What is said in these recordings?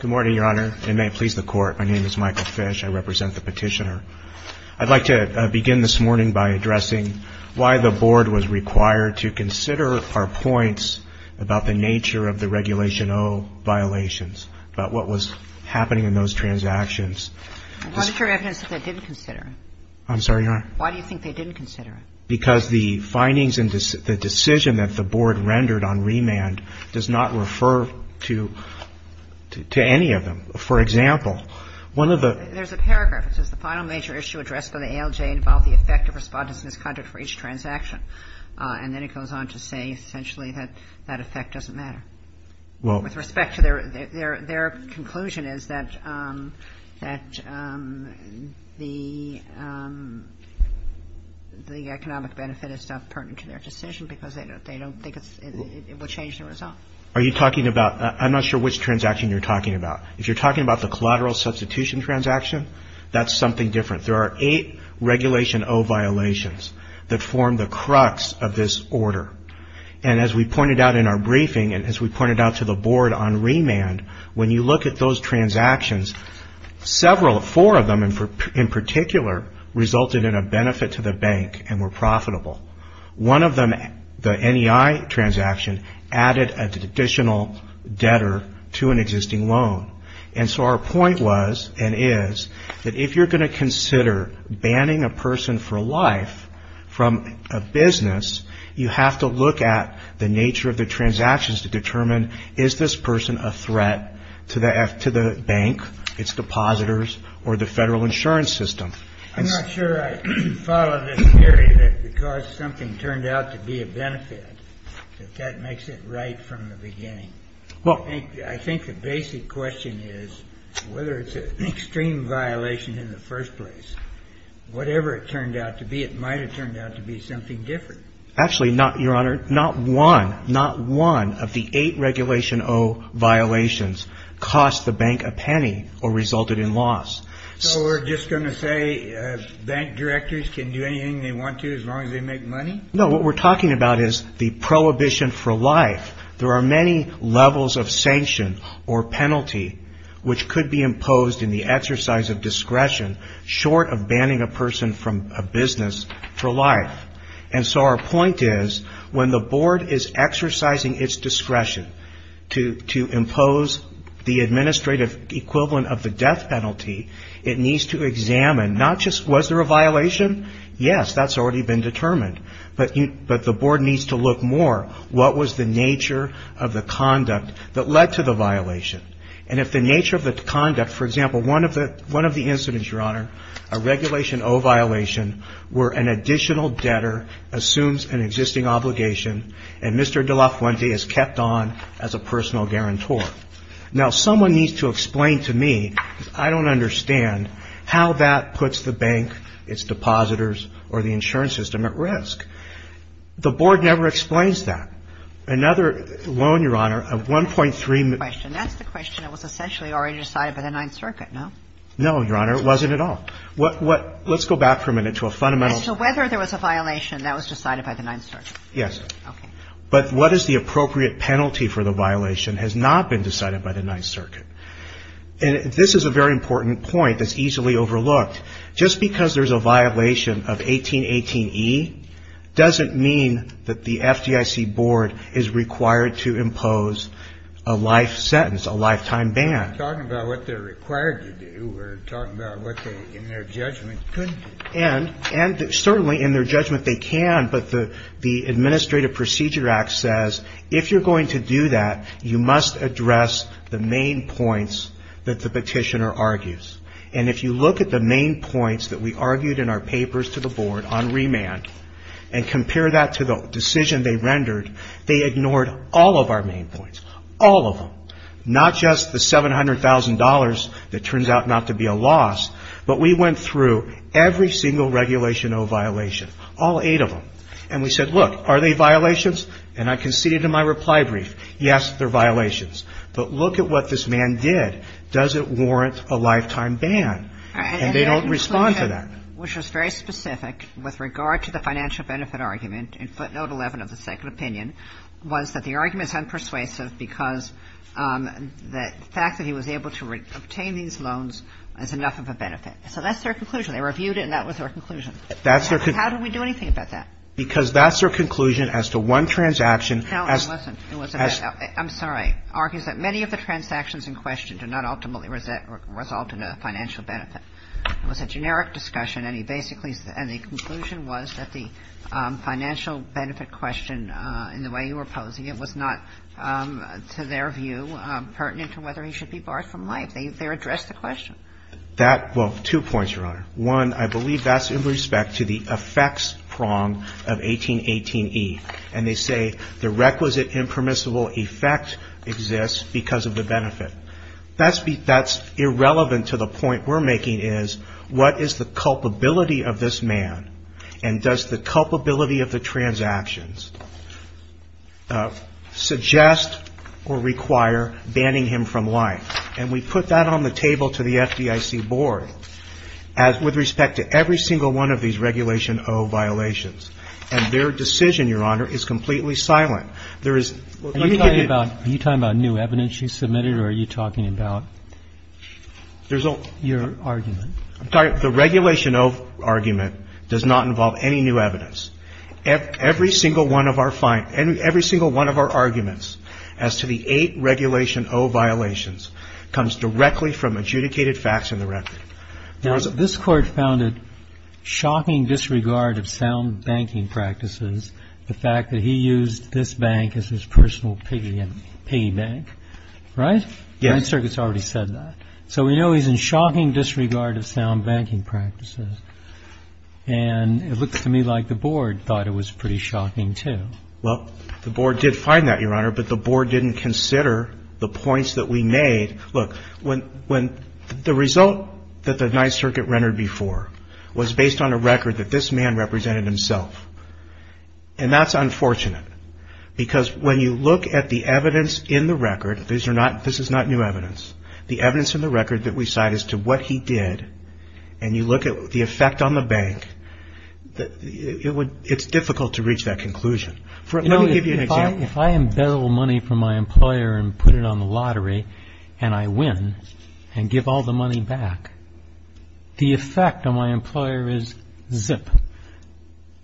Good morning, Your Honor. And may it please the Court, my name is Michael Fish. I represent the petitioner. I'd like to begin this morning by addressing why the Board was required to consider our points about the nature of the Regulation O violations, about what was happening in those transactions. And what is your evidence that they didn't consider it? I'm sorry, Your Honor? Why do you think they didn't consider it? Because the findings and the decision that the Board rendered on remand does not refer to any of them. For example, one of the There's a paragraph, it says, The final major issue addressed by the ALJ involved the effect of respondent's misconduct for each transaction. And then it goes on to say, essentially, that that effect doesn't matter. Well With respect to their, their, their conclusion is that, that the, the economic benefit is not pertinent to their decision because they don't, they don't think it's, it will change the result. Are you talking about, I'm not sure which transaction you're talking about. If you're talking about the collateral substitution transaction, that's something different. There are eight Regulation O violations that form the crux of this order. And as we pointed out in our briefing, and as we pointed out to the Board on remand, when you look at those transactions, several, four of them, in particular, resulted in a benefit to the bank and were profitable. One of them, the NEI transaction, added an additional debtor to an existing loan. And so our point was, and is, that if you're going to consider banning a person for life from a business, you have to look at the nature of the transactions to determine, is this person a threat to the, to the bank, its depositors, or the federal insurance system? I'm not sure I follow this theory that because something turned out to be a benefit, that that makes it right from the beginning. I think the basic question is whether it's an extreme violation in the first place. Whatever it turned out to be, it might have turned out to be something different. Actually, not, Your Honor, not one, not one of the eight Regulation O violations cost the bank a penny or resulted in loss. So we're just going to say bank directors can do anything they want to as long as they make money? No. What we're talking about is the prohibition for life. There are many levels of sanction or penalty which could be imposed in the exercise of discretion short of banning a person from a business for life. And so our point is, when the board is exercising its discretion to impose the administrative equivalent of the death penalty, it needs to examine not just was there a violation? Yes, that's already been determined. But the board needs to look more, what was the nature of the conduct that led to the violation? And if the nature of the conduct, for example, one of the incidents, Your Honor, a Regulation O violation where an additional debtor assumes an existing obligation and Mr. De La Fuente is kept on as a personal guarantor. Now someone needs to explain to me, because I don't understand, how that puts the bank, its depositors or the insurance system at risk. The board never explains that. Another loan, Your Honor, a 1.3 million — That's the question. That's the question that was essentially already decided by the Ninth Circuit, no? No, Your Honor. It wasn't at all. What — let's go back for a minute to a fundamental — So whether there was a violation, that was decided by the Ninth Circuit? Yes. Okay. But what is the appropriate penalty for the violation has not been decided by the Ninth Circuit. And this is a very important point that's easily overlooked. Just because there's a violation of 1818E doesn't mean that the FDIC board is required to impose a life sentence, a lifetime ban. Talking about what they're required to do, we're talking about what they, in their judgment, couldn't do. And certainly in their judgment they can, but the Administrative Procedure Act says if you're going to do that, you must address the main points that the petitioner argues. And if you look at the main points that we argued in our papers to the board on remand and compare that to the decision they rendered, they ignored all of our main points. All of them. Not just the $700,000 that turns out not to be a loss, but we went through every single Regulation O violation, all eight of them. And we said, look, are they violations? And I conceded in my reply brief, yes, they're violations. But look at what this man did. Does it warrant a lifetime ban? And they don't respond to that. Which was very specific with regard to the financial benefit argument in footnote 11 of the second opinion, was that the argument is unpersuasive because the fact that he was able to obtain these loans is enough of a benefit. So that's their conclusion. They reviewed it and that was their conclusion. How do we do anything about that? Because that's their conclusion as to one transaction. No, listen. I'm sorry. Argues that many of the transactions in question do not ultimately result in a financial benefit. It was a generic discussion and he basically And the conclusion was that the financial benefit question, in the way you were posing it, was not, to their view, pertinent to whether he should be barred from life. They addressed the question. That – well, two points, Your Honor. One, I believe that's in respect to the effects prong of 1818e. And they say the requisite impermissible effect exists because of the benefit. That's irrelevant to the point we're making is, what is the culpability of this man and does the culpability of the transactions suggest or require banning him from life? And we put that on the table to the FDIC board as – with respect to every single one of these Regulation O violations. And their decision, Your Honor, is completely silent. There is – Are you talking about new evidence you submitted or are you talking about your argument? I'm sorry. The Regulation O argument does not involve any new evidence. Every single one of our – every single one of our arguments as to the eight Regulation O violations comes directly from adjudicated facts in the record. Now, this Court found a shocking disregard of sound banking practices, the fact that he used this bank as his personal piggy bank, right? Yes. The Ninth Circuit's already said that. So we know he's in shocking disregard of sound banking practices. And it looks to me like the board thought it was pretty shocking, too. Well, the board did find that, Your Honor, but the board didn't consider the points that we made. Look, when – the result that the Ninth Circuit rendered before was based on a record that this man represented himself. And that's unfortunate because when you look at the evidence in the record – this is not new evidence – the evidence in the record that we cite as to what he did and you look at the effect on the bank, it's difficult to reach that conclusion. Let me give you an example. If I embezzle money from my employer and put it on the lottery and I win and give all the money back, the effect on my employer is zip.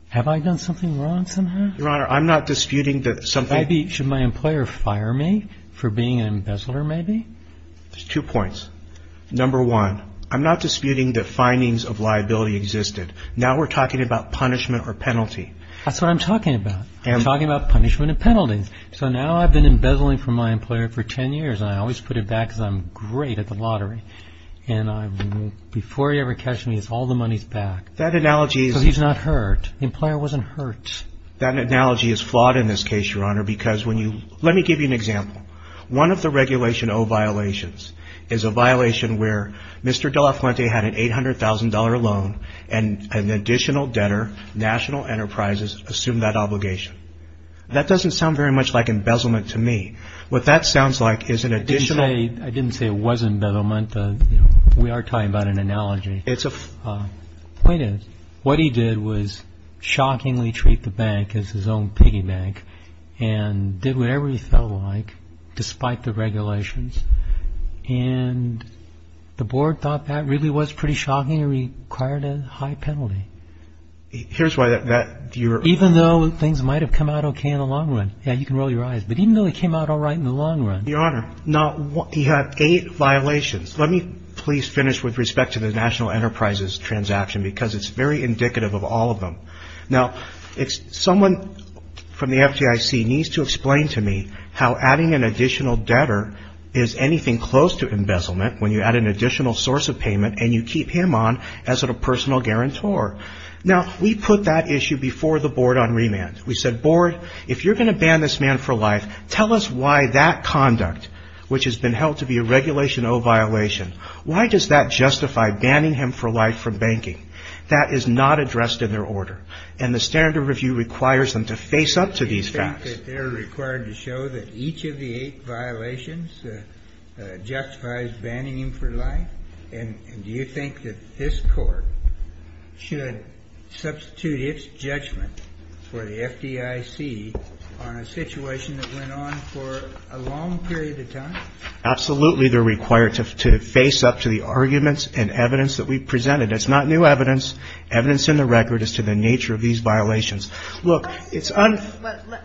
Have I done something wrong somehow? Your Honor, I'm not disputing that something – Maybe should my employer fire me for being an embezzler, maybe? There's two points. Number one, I'm not disputing that findings of liability existed. Now we're talking about punishment or penalty. That's what I'm talking about. I'm talking about punishment and penalties. So now I've been embezzling from my employer for ten years and I always put it back because I'm great at the lottery. And before he ever catches me, all the money's back. That analogy is – So he's not hurt. The employer wasn't hurt. That analogy is flawed in this case, Your Honor, because when you – let me give you an example. One of the Regulation O violations is a violation where Mr. De La Fuente had an $800,000 loan and an additional debtor, National Enterprises, assumed that obligation. That doesn't sound very much like embezzlement to me. What that sounds like is an additional – I didn't say it was embezzlement. We are talking about an analogy. It's a – What he did was shockingly treat the bank as his own piggy bank and did whatever he felt like despite the regulations. And the board thought that really was pretty shocking. It required a high penalty. Here's why that – Even though things might have come out okay in the long run. Yeah, you can roll your eyes. But even though it came out all right in the long run – Your Honor, he had eight violations. Let me please finish with respect to the National Enterprises transaction because it's very indicative of all of them. Now, someone from the FDIC needs to explain to me how adding an additional debtor is anything close to embezzlement when you add an additional source of payment and you keep him on as a personal guarantor. Now, we put that issue before the board on remand. We said, Board, if you're going to ban this man for life, tell us why that conduct, which has not justified banning him for life from banking. That is not addressed in their order. And the standard review requires them to face up to these facts. Do you think that they're required to show that each of the eight violations justifies banning him for life? And do you think that this court should substitute its judgment for the FDIC on a situation that went on for a long period of time? Absolutely, they're required to face up to the arguments and evidence that we've presented. It's not new evidence. Evidence in the record is to the nature of these violations. Let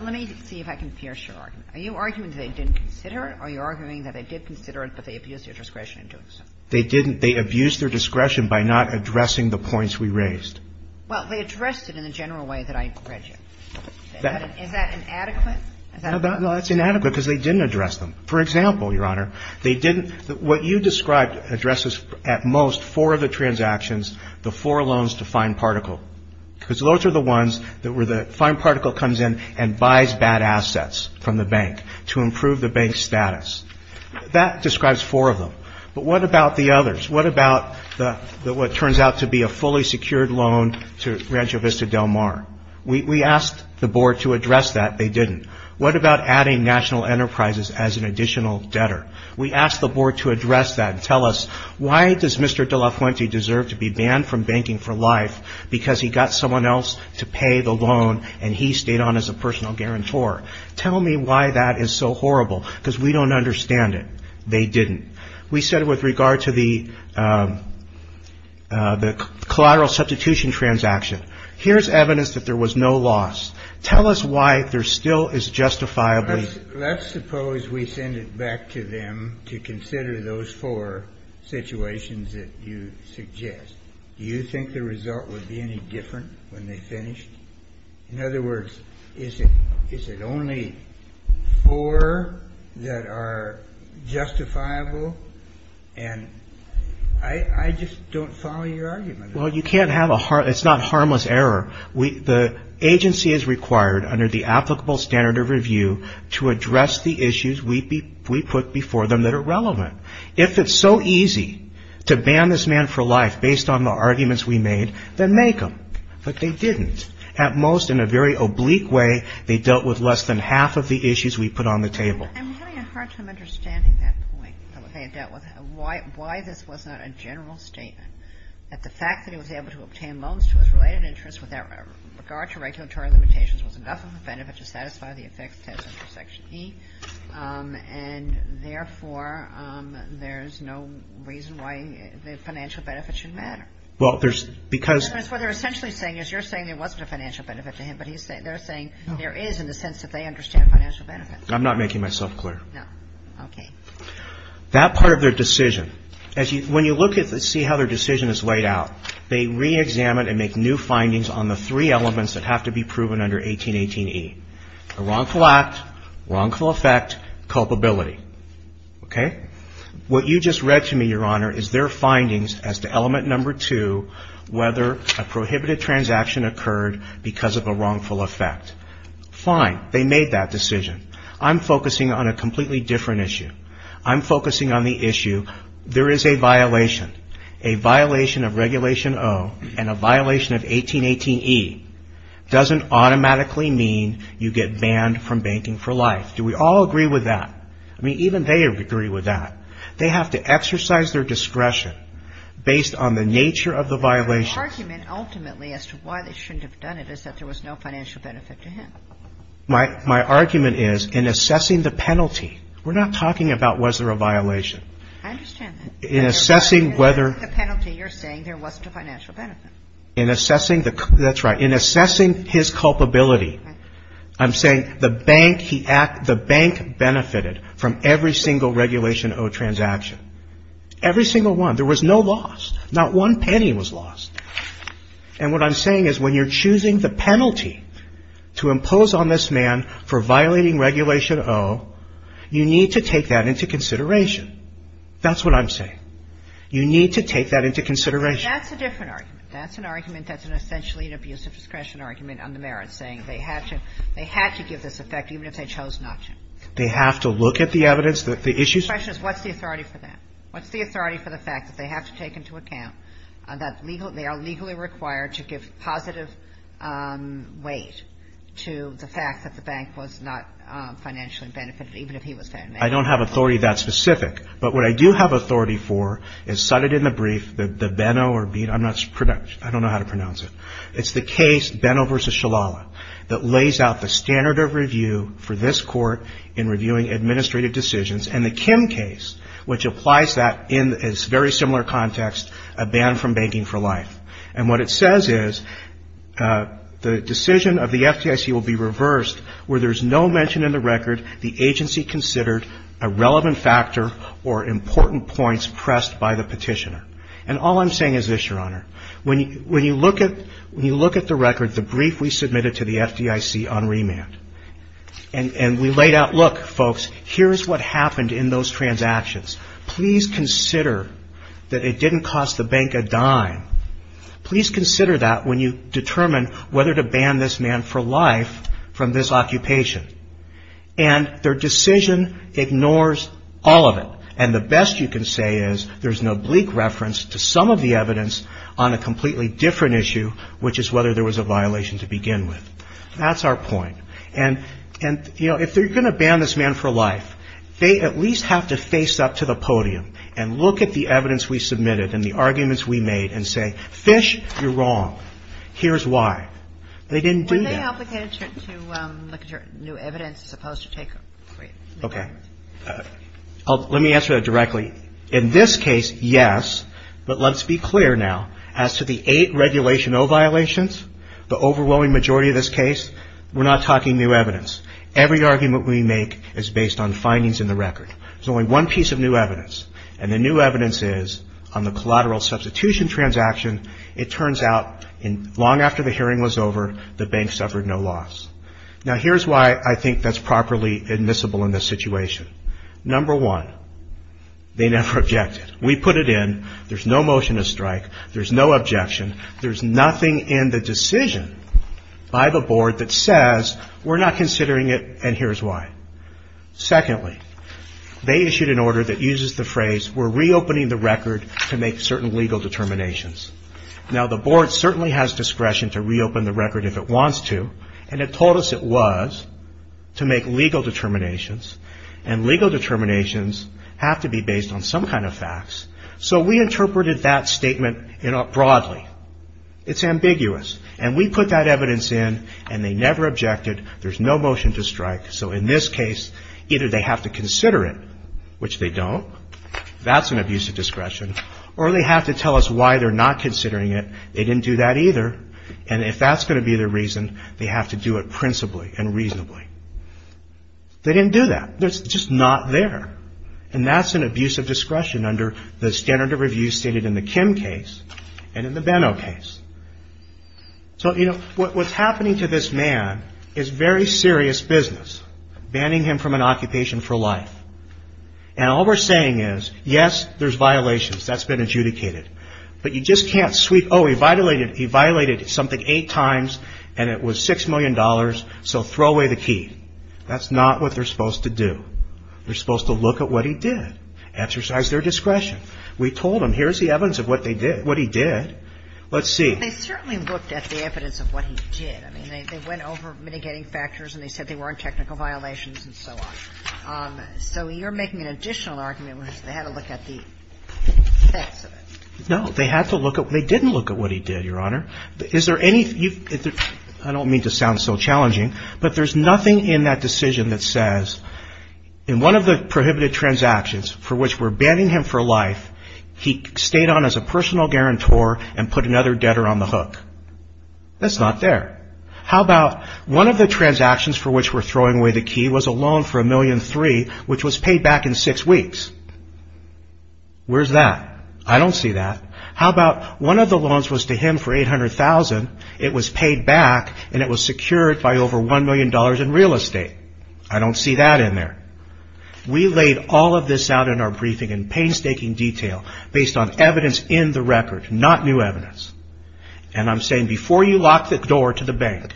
me see if I can pierce your argument. Are you arguing that they didn't consider it? Are you arguing that they did consider it, but they abused their discretion in doing so? They didn't. They abused their discretion by not addressing the points we raised. Well, they addressed it in the general way that I read you. Is that inadequate? No, that's inadequate because they didn't address them. For example, Your Honor, what you described addresses at most four of the transactions, the four loans to Fine Particle. Because those are the ones where the Fine Particle comes in and buys bad assets from the bank to improve the bank's status. That describes four of them. But what about the others? What about what turns out to be a fully secured loan to Rancho Vista Del Mar? We asked the board to address that. They didn't. What about adding National Enterprises as an additional debtor? We asked the board to address that and tell us why does Mr. De La Fuente deserve to be banned from banking for life because he got someone else to pay the loan and he stayed on as a personal guarantor? Tell me why that is so horrible, because we don't understand it. They didn't. We said with regard to the collateral substitution transaction, here's evidence that there was no loss. Tell us why there still is justifiably Let's suppose we send it back to them to consider those four situations that you suggest. Do you think the result would be any different when they finished? In other words, is it only four that are justifiable? And I just don't follow your argument. Well, it's not harmless error. The agency is required under the applicable standard of review to address the issues we put before them that are relevant. If it's so easy to ban this man for life based on the arguments we made, then make them. But they didn't. At most, in a very oblique way, they dealt with less than half of the issues we put on the table. I'm having a hard time understanding that point, why this wasn't a general statement. That the fact that he was able to obtain loans to his related interests with regard to regulatory limitations was enough of a benefit to satisfy the effects test under Section E, and therefore, there's no reason why the financial benefits should matter. Well, there's because That's what they're essentially saying is you're saying there wasn't a financial benefit to him, but they're saying there is in the sense that they understand financial benefits. I'm not making myself clear. No. Okay. That part of their decision, when you look and see how their decision is laid out, they reexamine and make new findings on the three elements that have to be proven under 1818E, a wrongful act, wrongful effect, culpability. Okay? What you just read to me, Your Honor, is their findings as to element number two, whether a prohibited transaction occurred because of a wrongful effect. Fine. They made that decision. I'm focusing on a completely different issue. I'm focusing on the issue there is a violation. A violation of Regulation O and a violation of 1818E doesn't automatically mean you get banned from banking for life. Do we all agree with that? I mean, even they agree with that. They have to exercise their discretion based on the nature of the violation. My argument ultimately as to why they shouldn't have done it is that there was no financial benefit to him. My argument is in assessing the penalty, we're not talking about was there a violation. I understand that. In assessing whether the penalty you're saying there wasn't a financial benefit. That's right. In assessing his culpability, I'm saying the bank benefited from every single Regulation O transaction. Every single one. There was no loss. Not one penny was lost. And what I'm saying is when you're choosing the penalty to impose on this man for violating Regulation O, you need to take that into consideration. That's what I'm saying. You need to take that into consideration. That's a different argument. That's an argument that's an essentially an abuse of discretion argument on the merits, saying they had to give this effect even if they chose not to. They have to look at the evidence, the issues. The question is what's the authority for that? What's the authority for the fact that they have to take into account that they are legally required to give positive weight to the fact that the bank was not financially benefited even if he was found guilty? I don't have authority that specific. But what I do have authority for is cited in the brief that the Benno or Beano. I don't know how to pronounce it. It's the case Benno v. Shalala that lays out the standard of review for this court in very similar context, a ban from banking for life. And what it says is the decision of the FDIC will be reversed where there's no mention in the record the agency considered a relevant factor or important points pressed by the petitioner. And all I'm saying is this, Your Honor. When you look at the record, the brief we submitted to the FDIC on remand, and we laid out, look, folks, here's what happened in those transactions. Please consider that it didn't cost the bank a dime. Please consider that when you determine whether to ban this man for life from this occupation. And their decision ignores all of it. And the best you can say is there's an oblique reference to some of the evidence on a completely different issue, which is whether there was a violation to begin with. That's our point. And, you know, if they're going to ban this man for life, they at least have to face up to the podium and look at the evidence we submitted and the arguments we made and say, Fish, you're wrong. Here's why. They didn't do that. When they obligated you to look at your new evidence as opposed to take a brief. Okay. Let me answer that directly. In this case, yes, but let's be clear now. As to the eight Regulation O violations, the overwhelming majority of this case, we're not talking new evidence. Every argument we make is based on findings in the record. There's only one piece of new evidence. And the new evidence is on the collateral substitution transaction. It turns out long after the hearing was over, the bank suffered no loss. Now, here's why I think that's properly admissible in this situation. Number one, they never objected. We put it in. There's no motion to strike. There's no objection. There's nothing in the decision by the board that says we're not considering it and here's why. Secondly, they issued an order that uses the phrase, we're reopening the record to make certain legal determinations. Now, the board certainly has discretion to reopen the record if it wants to. And it told us it was to make legal determinations. And legal determinations have to be based on some kind of facts. So we interpreted that statement broadly. It's ambiguous. And we put that evidence in and they never objected. There's no motion to strike. So in this case, either they have to consider it, which they don't. That's an abuse of discretion. Or they have to tell us why they're not considering it. They didn't do that either. And if that's going to be their reason, they have to do it principally and reasonably. They didn't do that. It's just not there. And that's an abuse of discretion under the standard of review stated in the Kim case and in the Benno case. So, you know, what's happening to this man is very serious business, banning him from an occupation for life. And all we're saying is, yes, there's violations. That's been adjudicated. But you just can't sweep, oh, he violated something eight times and it was $6 million, so throw away the key. That's not what they're supposed to do. They're supposed to look at what he did, exercise their discretion. We told them, here's the evidence of what they did, what he did. Let's see. They certainly looked at the evidence of what he did. I mean, they went over mitigating factors and they said they weren't technical violations and so on. So you're making an additional argument, which is they had to look at the effects of it. No. They had to look at it. They didn't look at what he did, Your Honor. I don't mean to sound so challenging, but there's nothing in that decision that says, in one of the prohibited transactions for which we're banning him for life, he stayed on as a personal guarantor and put another debtor on the hook. That's not there. How about one of the transactions for which we're throwing away the key was a loan for $1.3 million, which was paid back in six weeks. Where's that? I don't see that. How about one of the loans was to him for $800,000. It was paid back and it was secured by over $1 million in real estate. I don't see that in there. We laid all of this out in our briefing in painstaking detail based on evidence in the record, not new evidence. And I'm saying before you lock the door to the bank,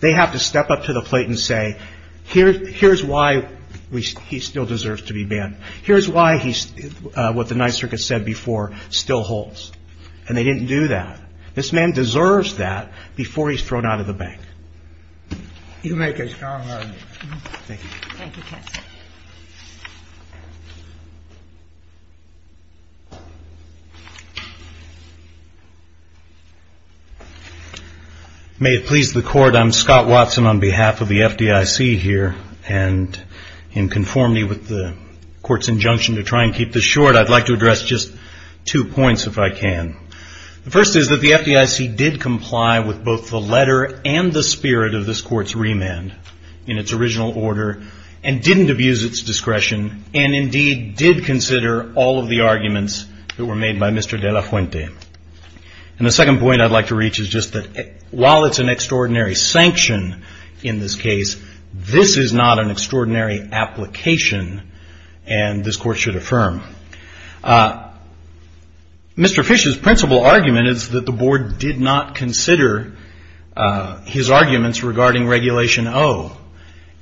they have to step up to the plate and say, here's why he still deserves to be banned. Here's why what the Ninth Circuit said before still holds. And they didn't do that. This man deserves that before he's thrown out of the bank. You make a strong argument. Thank you. Thank you, counsel. May it please the Court. I'm Scott Watson on behalf of the FDIC here. And in conformity with the Court's injunction to try and keep this short, I'd like to address just two points, if I can. The first is that the FDIC did comply with both the letter and the spirit of this Court's remand in its original order, and didn't abuse its discretion, and indeed did consider all of the arguments that were made by Mr. De La Fuente. And the second point I'd like to reach is just that while it's an extraordinary sanction in this case, this is not an extraordinary application, and this Court should affirm. Mr. Fish's principal argument is that the Board did not consider his arguments regarding Regulation O.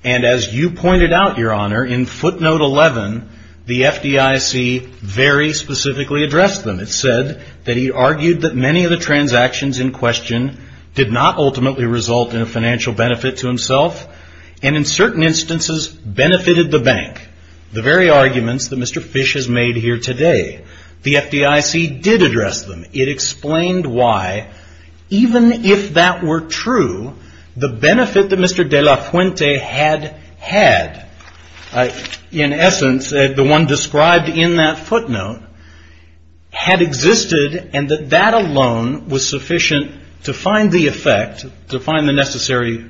And as you pointed out, Your Honor, in footnote 11, the FDIC very specifically addressed them. It said that he argued that many of the transactions in question did not ultimately result in a financial benefit to himself, and in certain instances benefited the bank. The very arguments that Mr. Fish has made here today, the FDIC did address them. It explained why, even if that were true, the benefit that Mr. De La Fuente had had, in essence, the one described in that footnote, had existed, and that that alone was sufficient to find the effect, to find the necessary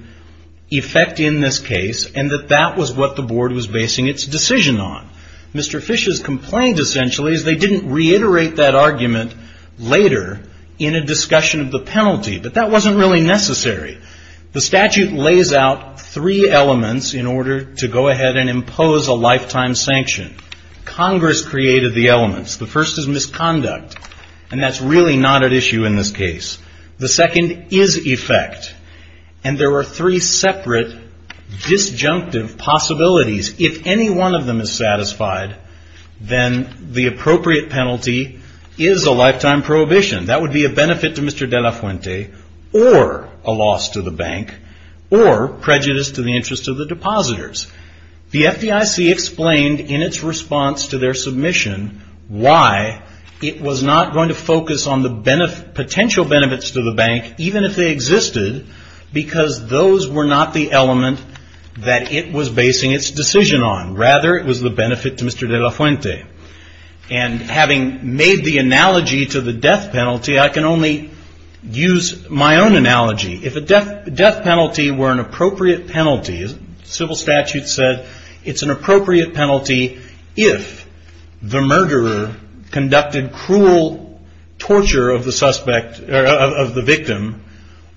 effect in this case, and that that was what the Board was basing its decision on. Mr. Fish's complaint, essentially, is they didn't reiterate that argument later in a discussion of the penalty, but that wasn't really necessary. The statute lays out three elements in order to go ahead and impose a lifetime sanction. Congress created the elements. The first is misconduct, and that's really not at issue in this case. The second is effect, and there are three separate disjunctive possibilities. If any one of them is satisfied, then the appropriate penalty is a lifetime prohibition. That would be a benefit to Mr. De La Fuente, or a loss to the bank, or prejudice to the interest of the depositors. The FDIC explained in its response to their submission why it was not going to focus on the potential benefits to the bank, even if they existed, because those were not the element that it was basing its decision on. Rather, it was the benefit to Mr. De La Fuente. And having made the analogy to the death penalty, I can only use my own analogy. If a death penalty were an appropriate penalty, as civil statute said, it's an appropriate penalty if the murderer conducted cruel torture of the victim,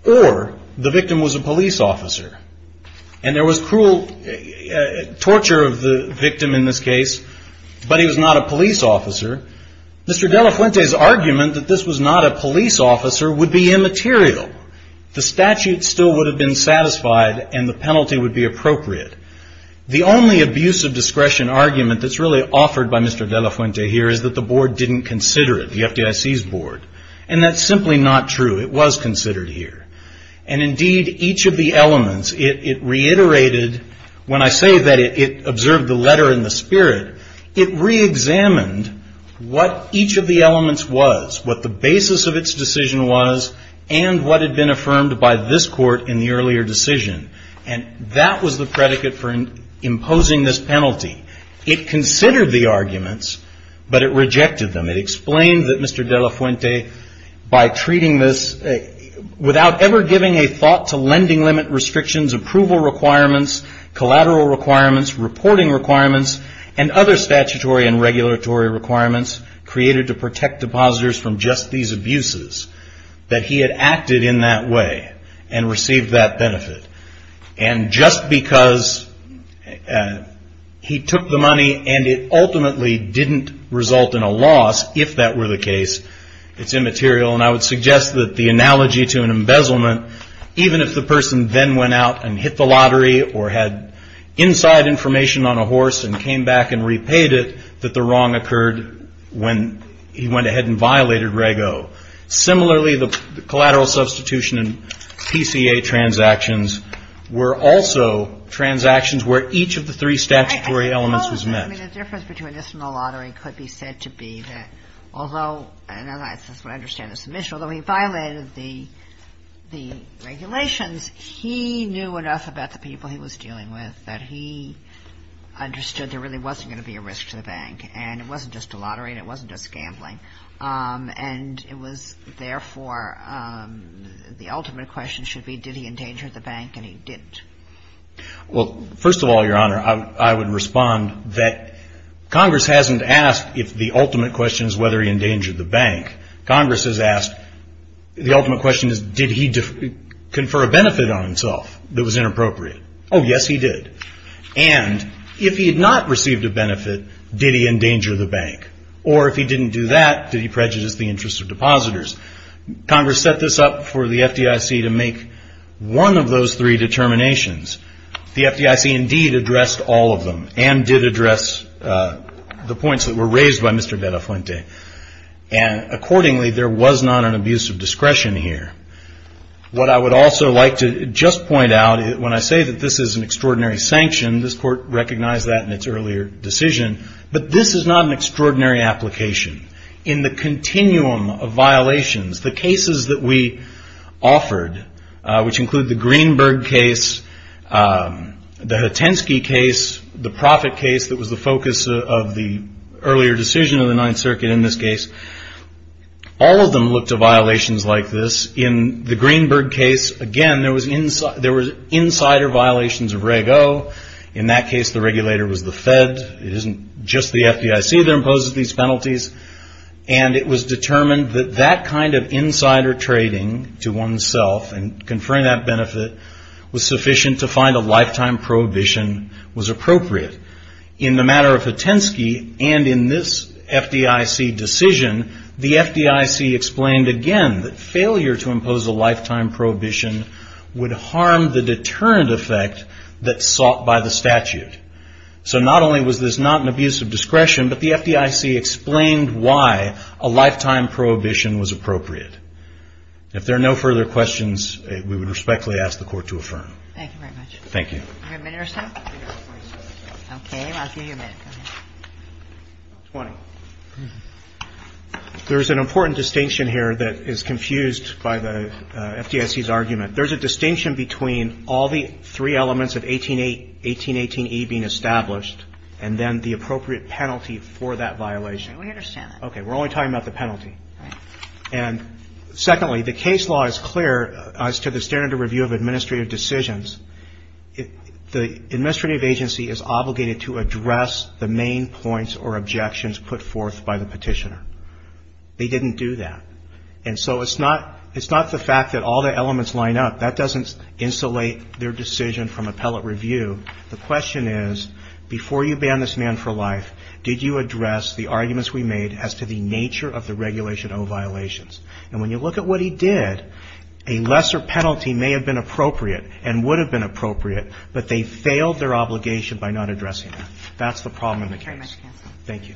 or the victim was a police officer. And there was cruel torture of the victim in this case, but he was not a police officer. Mr. De La Fuente's argument that this was not a police officer would be immaterial. The statute still would have been satisfied, and the penalty would be appropriate. The only abuse of discretion argument that's really offered by Mr. De La Fuente here is that the board didn't consider it, the FDIC's board, and that's simply not true. It was considered here. And indeed, each of the elements, it reiterated, when I say that it observed the letter in the spirit, it reexamined what each of the elements was, what the basis of its decision was, and what had been affirmed by this court in the earlier decision. And that was the predicate for imposing this penalty. It considered the arguments, but it rejected them. It explained that Mr. De La Fuente, by treating this without ever giving a thought to lending limit restrictions, approval requirements, collateral requirements, reporting requirements, and other statutory and regulatory requirements created to protect depositors from just these abuses, that he had acted in that way and received that benefit. And just because he took the money and it ultimately didn't result in a loss, if that were the case, it's immaterial. And I would suggest that the analogy to an embezzlement, even if the person then went out and hit the lottery or had inside information on a horse and came back and repaid it, that the wrong occurred when he went ahead and violated Reg O. Similarly, the collateral substitution and PCA transactions were also transactions where each of the three statutory elements was met. I suppose the difference between this and the lottery could be said to be that although, and I understand the submission, although he violated the regulations, he knew enough about the people he was dealing with that he understood there really wasn't going to be a risk to the bank. And it wasn't just a lottery and it wasn't just gambling. And it was, therefore, the ultimate question should be did he endanger the bank, and he didn't. Well, first of all, Your Honor, I would respond that Congress hasn't asked if the ultimate question is whether he endangered the bank. Congress has asked, the ultimate question is did he confer a benefit on himself that was inappropriate. Oh, yes, he did. And if he had not received a benefit, did he endanger the bank? Or if he didn't do that, did he prejudice the interests of depositors? Congress set this up for the FDIC to make one of those three determinations. The FDIC indeed addressed all of them and did address the points that were raised by Mr. De La Fuente. And accordingly, there was not an abuse of discretion here. What I would also like to just point out, when I say that this is an extraordinary sanction, this court recognized that in its earlier decision. But this is not an extraordinary application. In the continuum of violations, the cases that we offered, which include the Greenberg case, the Hatensky case, the Profitt case, that was the focus of the earlier decision of the Ninth Circuit in this case, all of them looked to violations like this. In the Greenberg case, again, there was insider violations of Reg O. In that case, the regulator was the Fed. It isn't just the FDIC that imposes these penalties. And it was determined that that kind of insider trading to oneself and conferring that benefit was sufficient to find a lifetime prohibition was appropriate. In the matter of Hatensky and in this FDIC decision, the FDIC explained again that failure to impose a lifetime prohibition would harm the deterrent effect that's sought by the statute. So not only was this not an abuse of discretion, but the FDIC explained why a lifetime prohibition was appropriate. If there are no further questions, we would respectfully ask the Court to affirm. Thank you very much. Thank you. Do you have a minute or so? Okay. I'll give you a minute. Go ahead. Twenty. There's an important distinction here that is confused by the FDIC's argument. There's a distinction between all the three elements of 1818E being established and then the appropriate penalty for that violation. We understand that. Okay. We're only talking about the penalty. And secondly, the case law is clear as to the standard of review of administrative decisions. The administrative agency is obligated to address the main points or objections put forth by the petitioner. They didn't do that. And so it's not the fact that all the elements line up. That doesn't insulate their decision from appellate review. The question is, before you ban this man for life, did you address the arguments we made as to the nature of the Regulation O violations? And when you look at what he did, a lesser penalty may have been appropriate and would have been appropriate, but they failed their obligation by not addressing that. That's the problem in the case. Thank you very much, counsel.